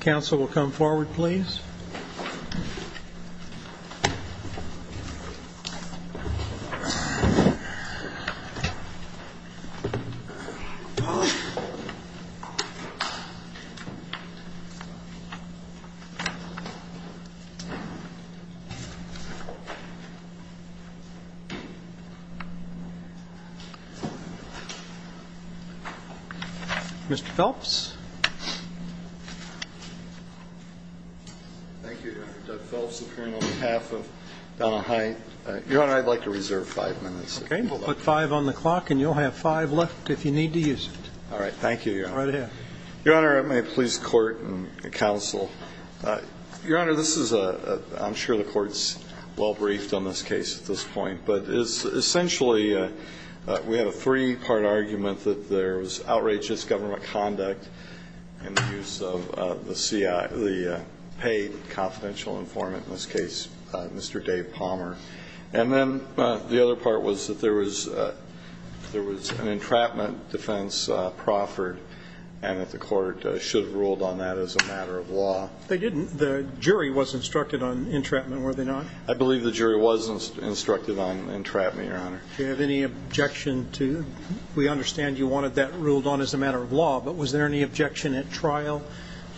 Council will come forward, please. Mr. Phelps. Your Honor, I'd like to reserve five minutes. Okay. Put five on the clock and you'll have five left if you need to use it. All right. Thank you, Your Honor. Right ahead. Your Honor, may it please the Court and the Council. Your Honor, this is a – I'm sure the Court's well briefed on this case at this point, but essentially we have a three-part argument that there was outrageous government conduct and the use of the paid confidential informant, in this case, Mr. Dave Palmer. And then the other part was that there was an entrapment defense proffered and that the Court should have ruled on that as a matter of law. They didn't. The jury was instructed on entrapment, were they not? I believe the jury was instructed on entrapment, Your Honor. Do you have any objection to – we understand you wanted that ruled on as a matter of law, but was there any objection at trial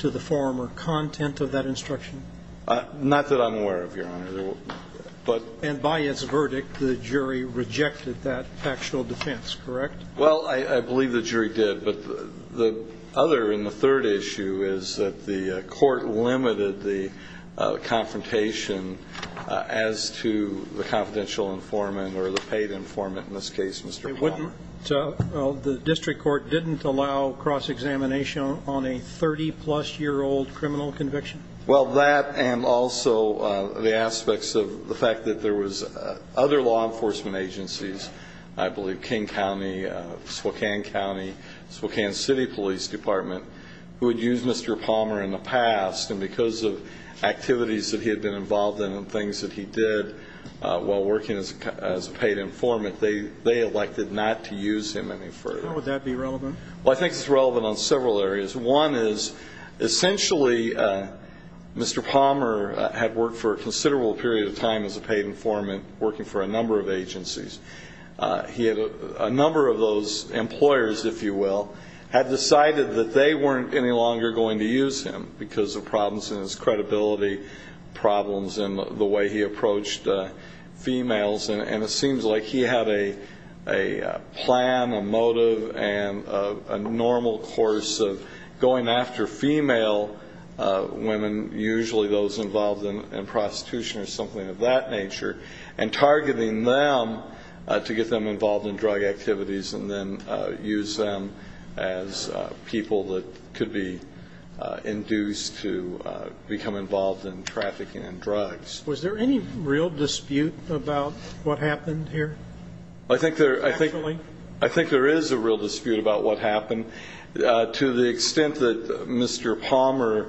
to the form or content of that instruction? Not that I'm aware of, Your Honor. And by its verdict, the jury rejected that factual defense, correct? Well, I believe the jury did. But the other and the third issue is that the Court limited the confrontation as to the confidential informant or the paid informant in this case, Mr. Palmer. So the district court didn't allow cross-examination on a 30-plus-year-old criminal conviction? Well, that and also the aspects of the fact that there was other law enforcement agencies, I believe King County, Spokane County, Spokane City Police Department, who had used Mr. Palmer in the past. And because of activities that he had been involved in and things that he did while working as a paid informant, they elected not to use him any further. How would that be relevant? Well, I think it's relevant on several areas. One is essentially Mr. Palmer had worked for a considerable period of time as a paid informant, working for a number of agencies. A number of those employers, if you will, had decided that they weren't any longer going to use him because of problems in his credibility, problems in the way he approached females. And it seems like he had a plan, a motive, and a normal course of going after female women, usually those involved in prostitution or something of that nature, and targeting them to get them involved in drug activities and then use them as people that could be induced to become involved in trafficking and drugs. Was there any real dispute about what happened here? I think there is a real dispute about what happened. To the extent that Mr. Palmer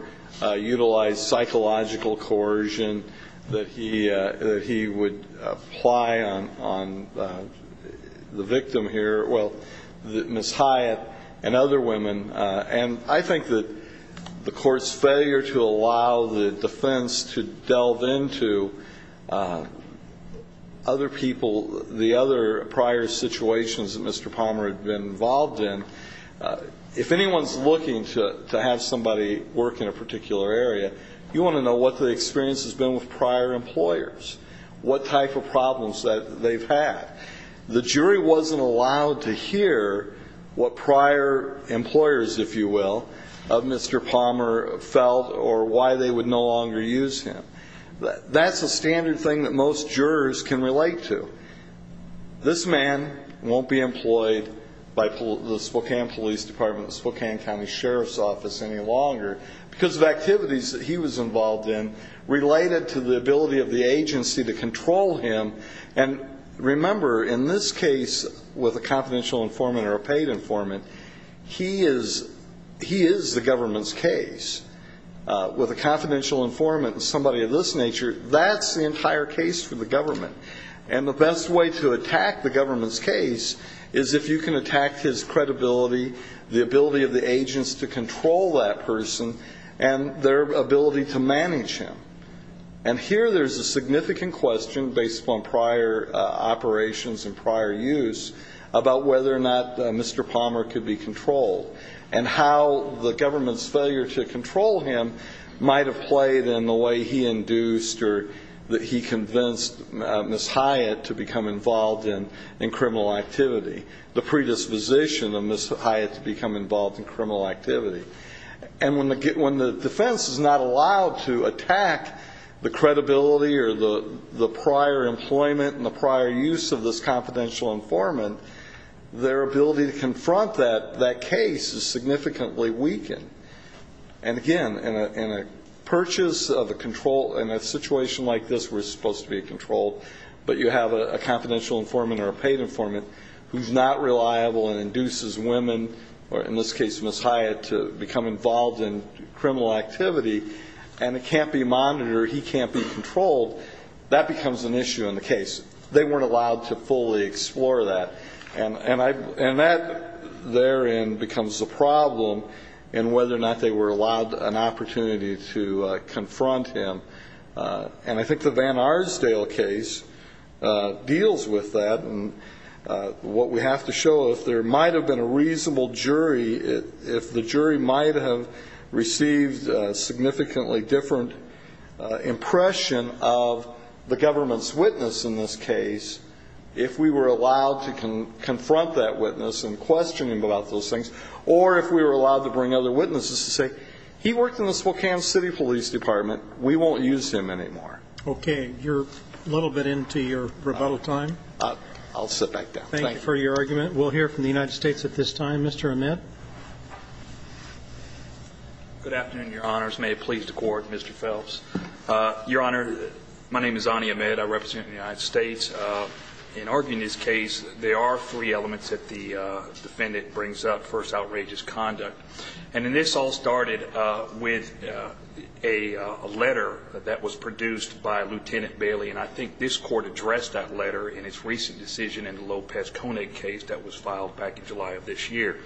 utilized psychological coercion, that he would apply on the victim here, well, Ms. Hyatt and other women, and I think that the court's failure to allow the defense to delve into other people, the other prior situations that Mr. Palmer had been involved in, if anyone's looking to have somebody work in a particular area, you want to know what the experience has been with prior employers, what type of problems that they've had. The jury wasn't allowed to hear what prior employers, if you will, of Mr. Palmer felt or why they would no longer use him. That's a standard thing that most jurors can relate to. This man won't be employed by the Spokane Police Department, the Spokane County Sheriff's Office any longer, because of activities that he was involved in related to the ability of the agency to control him. And remember, in this case, with a confidential informant or a paid informant, he is the government's case. With a confidential informant and somebody of this nature, that's the entire case for the government. And the best way to attack the government's case is if you can attack his credibility, the ability of the agents to control that person, and their ability to manage him. And here there's a significant question, based upon prior operations and prior use, about whether or not Mr. Palmer could be controlled and how the government's failure to control him might have played in the way he induced or that he convinced Ms. Hyatt to become involved in criminal activity, the predisposition of Ms. Hyatt to become involved in criminal activity. And when the defense is not allowed to attack the credibility or the prior employment and the prior use of this confidential informant, their ability to confront that case is significantly weakened. And again, in a purchase of a control, in a situation like this where it's supposed to be controlled, but you have a confidential informant or a paid informant who's not reliable and induces women, or in this case Ms. Hyatt, to become involved in criminal activity, and it can't be monitored or he can't be controlled, that becomes an issue in the case. They weren't allowed to fully explore that. And that therein becomes a problem in whether or not they were allowed an opportunity to confront him. And I think the Van Arsdale case deals with that. And what we have to show, if there might have been a reasonable jury, if the jury might have received a significantly different impression of the government's witness in this case, if we were allowed to confront that witness and question him about those things, or if we were allowed to bring other witnesses to say, he worked in the Spokane City Police Department, we won't use him anymore. Okay. You're a little bit into your rebuttal time. I'll sit back down. Thank you for your argument. We'll hear from the United States at this time. Mr. Ahmed? Good afternoon, Your Honors. May it please the Court, Mr. Phelps. Your Honor, my name is Ani Ahmed. I represent the United States. In arguing this case, there are three elements that the defendant brings up. First, outrageous conduct. And this all started with a letter that was produced by Lieutenant Bailey, and I think this Court addressed that letter in its recent decision in the Lopez-Koenig case that was filed back in July of this year.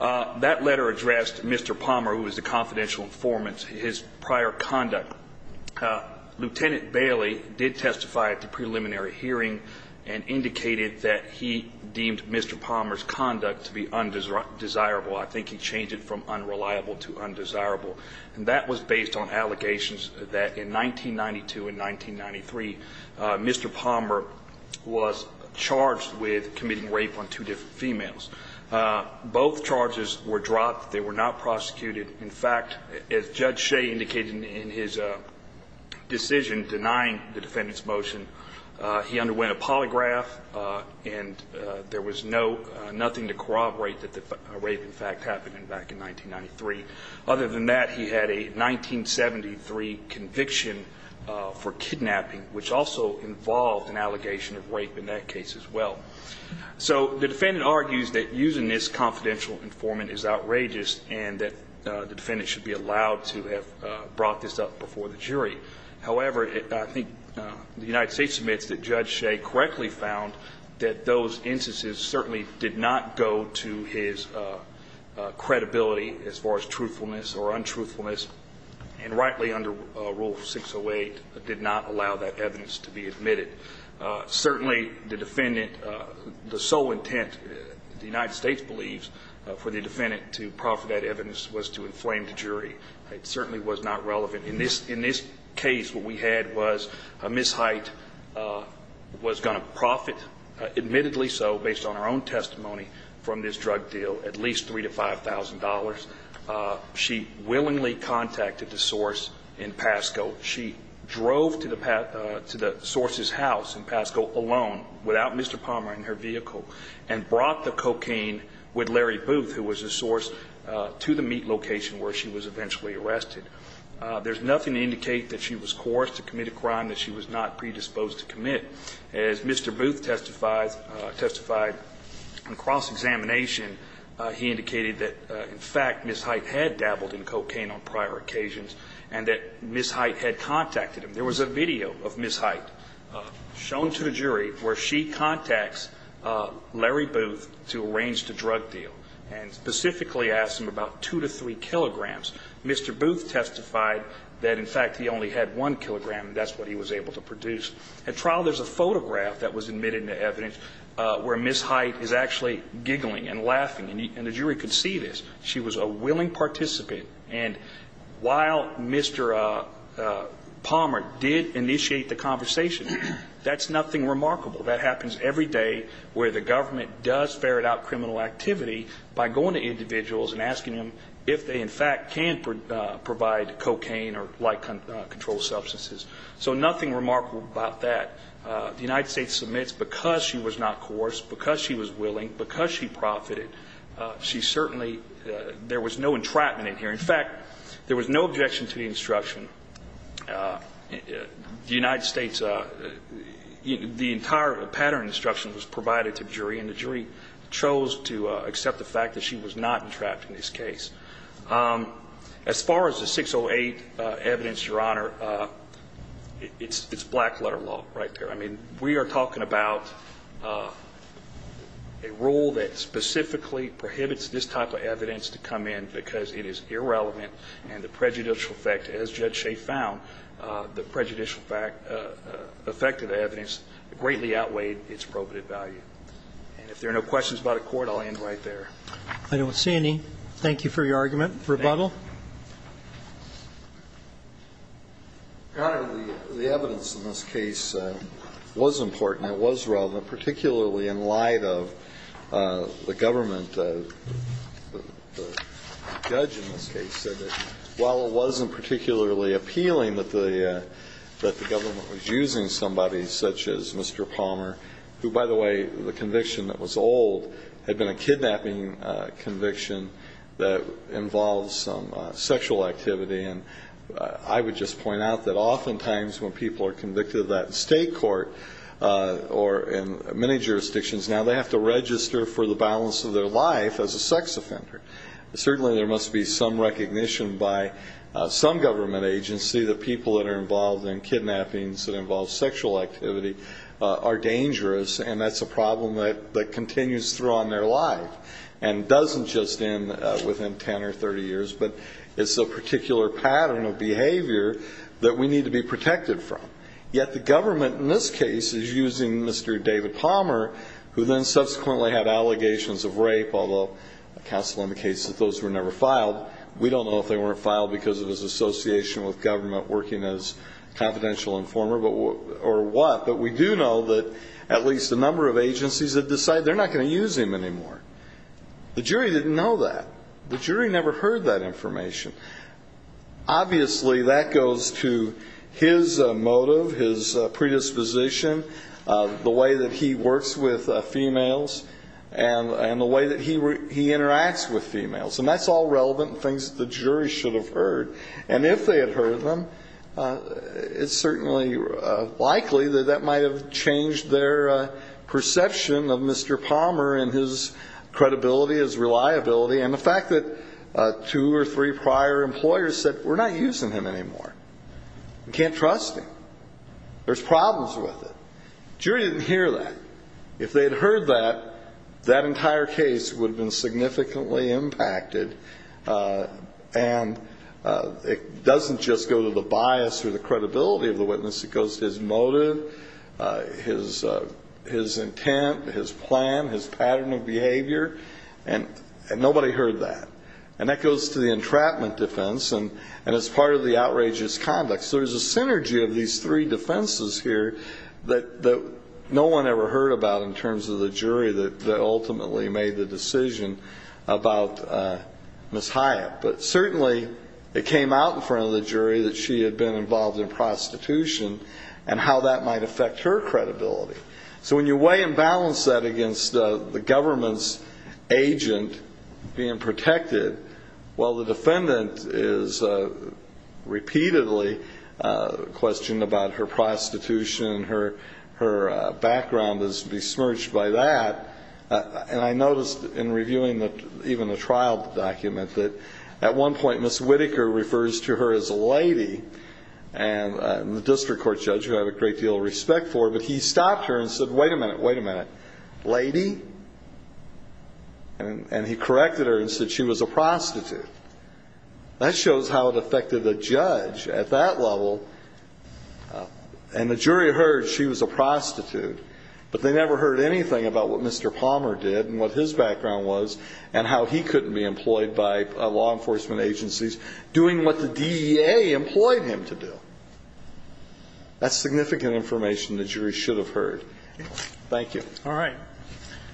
That letter addressed Mr. Palmer, who was the confidential informant, his prior conduct. Lieutenant Bailey did testify at the preliminary hearing and indicated that he deemed Mr. Palmer's conduct to be undesirable. I think he changed it from unreliable to undesirable. And that was based on allegations that in 1992 and 1993, Mr. Palmer was charged with committing rape on two different females. Both charges were dropped. They were not prosecuted. In fact, as Judge Shea indicated in his decision denying the defendant's motion, he underwent a polygraph, and there was nothing to corroborate that the rape, in fact, happened back in 1993. Other than that, he had a 1973 conviction for kidnapping, which also involved an allegation of rape in that case as well. So the defendant argues that using this confidential informant is outrageous and that the defendant should be allowed to have brought this up before the jury. However, I think the United States admits that Judge Shea correctly found that those instances certainly did not go to his credibility as far as truthfulness or untruthfulness, and rightly under Rule 608, did not allow that evidence to be admitted. Certainly, the defendant the sole intent, the United States believes, for the defendant to profit that evidence was to inflame the jury. It certainly was not relevant. In this case, what we had was Ms. Hite was going to profit, admittedly so, based on her own testimony from this drug deal, at least $3,000 to $5,000. She willingly contacted the source in Pasco. She drove to the source's house in Pasco alone, without Mr. Palmer in her vehicle, and brought the cocaine with Larry Booth, who was the source, to the meat location where she was eventually arrested. There's nothing to indicate that she was coerced to commit a crime that she was not predisposed to commit. As Mr. Booth testified in cross-examination, he indicated that, in fact, Ms. Hite had dabbled in cocaine on prior occasions, and that Ms. Hite had contacted him. There was a video of Ms. Hite shown to the jury where she contacts Larry Booth to arrange the drug deal, and specifically asked him about 2 to 3 kilograms. Mr. Booth testified that, in fact, he only had 1 kilogram, and that's what he was able to produce. At trial, there's a photograph that was admitted into evidence where Ms. Hite is actually giggling and laughing, and the jury could see this. She was a willing participant, and while Mr. Palmer did initiate the conversation, that's nothing remarkable. That happens every day where the government does ferret out criminal activity by going to individuals and asking them if they, in fact, can provide cocaine or like-controlled substances. So nothing remarkable about that. The United States submits because she was not coerced, because she was willing, because she profited. She certainly – there was no entrapment in here. In fact, there was no objection to the instruction. The United States – the entire pattern instruction was provided to the jury, and the jury chose to accept the fact that she was not entrapped in this case. As far as the 608 evidence, Your Honor, it's black-letter law right there. I mean, we are talking about a rule that specifically prohibits this type of evidence to come in because it is irrelevant, and the prejudicial effect, as Judge Shea found, the prejudicial effect of the evidence greatly outweighed its probative value. And if there are no questions about a court, I'll end right there. I don't see any. Thank you for your argument. Thank you. Rebuttal? Your Honor, the evidence in this case was important. It was relevant, particularly in light of the government. The judge in this case said that while it wasn't particularly appealing that the government was using somebody such as Mr. Palmer, who, by the way, the conviction that was old had been a kidnapping conviction that involved some sexual activity. And I would just point out that oftentimes when people are convicted of that in state court or in many jurisdictions now, they have to register for the balance of their life as a sex offender. Certainly there must be some recognition by some government agency that people that are involved in kidnappings that involve sexual activity are dangerous, and that's a problem that continues throughout their life and doesn't just end within 10 or 30 years, but it's a particular pattern of behavior that we need to be protected from. Yet the government in this case is using Mr. David Palmer, who then subsequently had allegations of rape, although counsel indicates that those were never filed. We don't know if they weren't filed because of his association with government working as confidential informer or what, but we do know that at least a number of agencies have decided they're not going to use him anymore. The jury didn't know that. The jury never heard that information. Obviously that goes to his motive, his predisposition, the way that he works with females, and the way that he interacts with females, and that's all relevant and things that the jury should have heard. And if they had heard them, it's certainly likely that that might have changed their perception of Mr. Palmer and his credibility, his reliability, and the fact that two or three prior employers said, we're not using him anymore, we can't trust him, there's problems with it. The jury didn't hear that. If they had heard that, that entire case would have been significantly impacted, and it doesn't just go to the bias or the credibility of the witness. It goes to his motive, his intent, his plan, his pattern of behavior, and nobody heard that. And that goes to the entrapment defense, and it's part of the outrageous conduct. So there's a synergy of these three defenses here that no one ever heard about in terms of the jury that ultimately made the decision about Ms. Hyatt. But certainly it came out in front of the jury that she had been involved in prostitution and how that might affect her credibility. So when you weigh and balance that against the government's agent being protected, while the defendant is repeatedly questioned about her prostitution and her background is besmirched by that, and I noticed in reviewing even the trial document that at one point Ms. Whitaker refers to her as a lady, and the district court judge, who I have a great deal of respect for, but he stopped her and said, wait a minute, wait a minute, lady? And he corrected her and said she was a prostitute. That shows how it affected the judge at that level. And the jury heard she was a prostitute, but they never heard anything about what Mr. Palmer did and what his background was and how he couldn't be employed by law enforcement agencies doing what the DEA employed him to do. That's significant information the jury should have heard. Thank you. All right.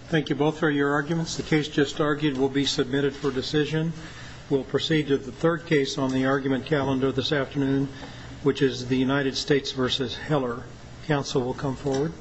Thank you both for your arguments. The case just argued will be submitted for decision. We'll proceed to the third case on the argument calendar this afternoon, which is the United States v. Heller. Counsel will come forward.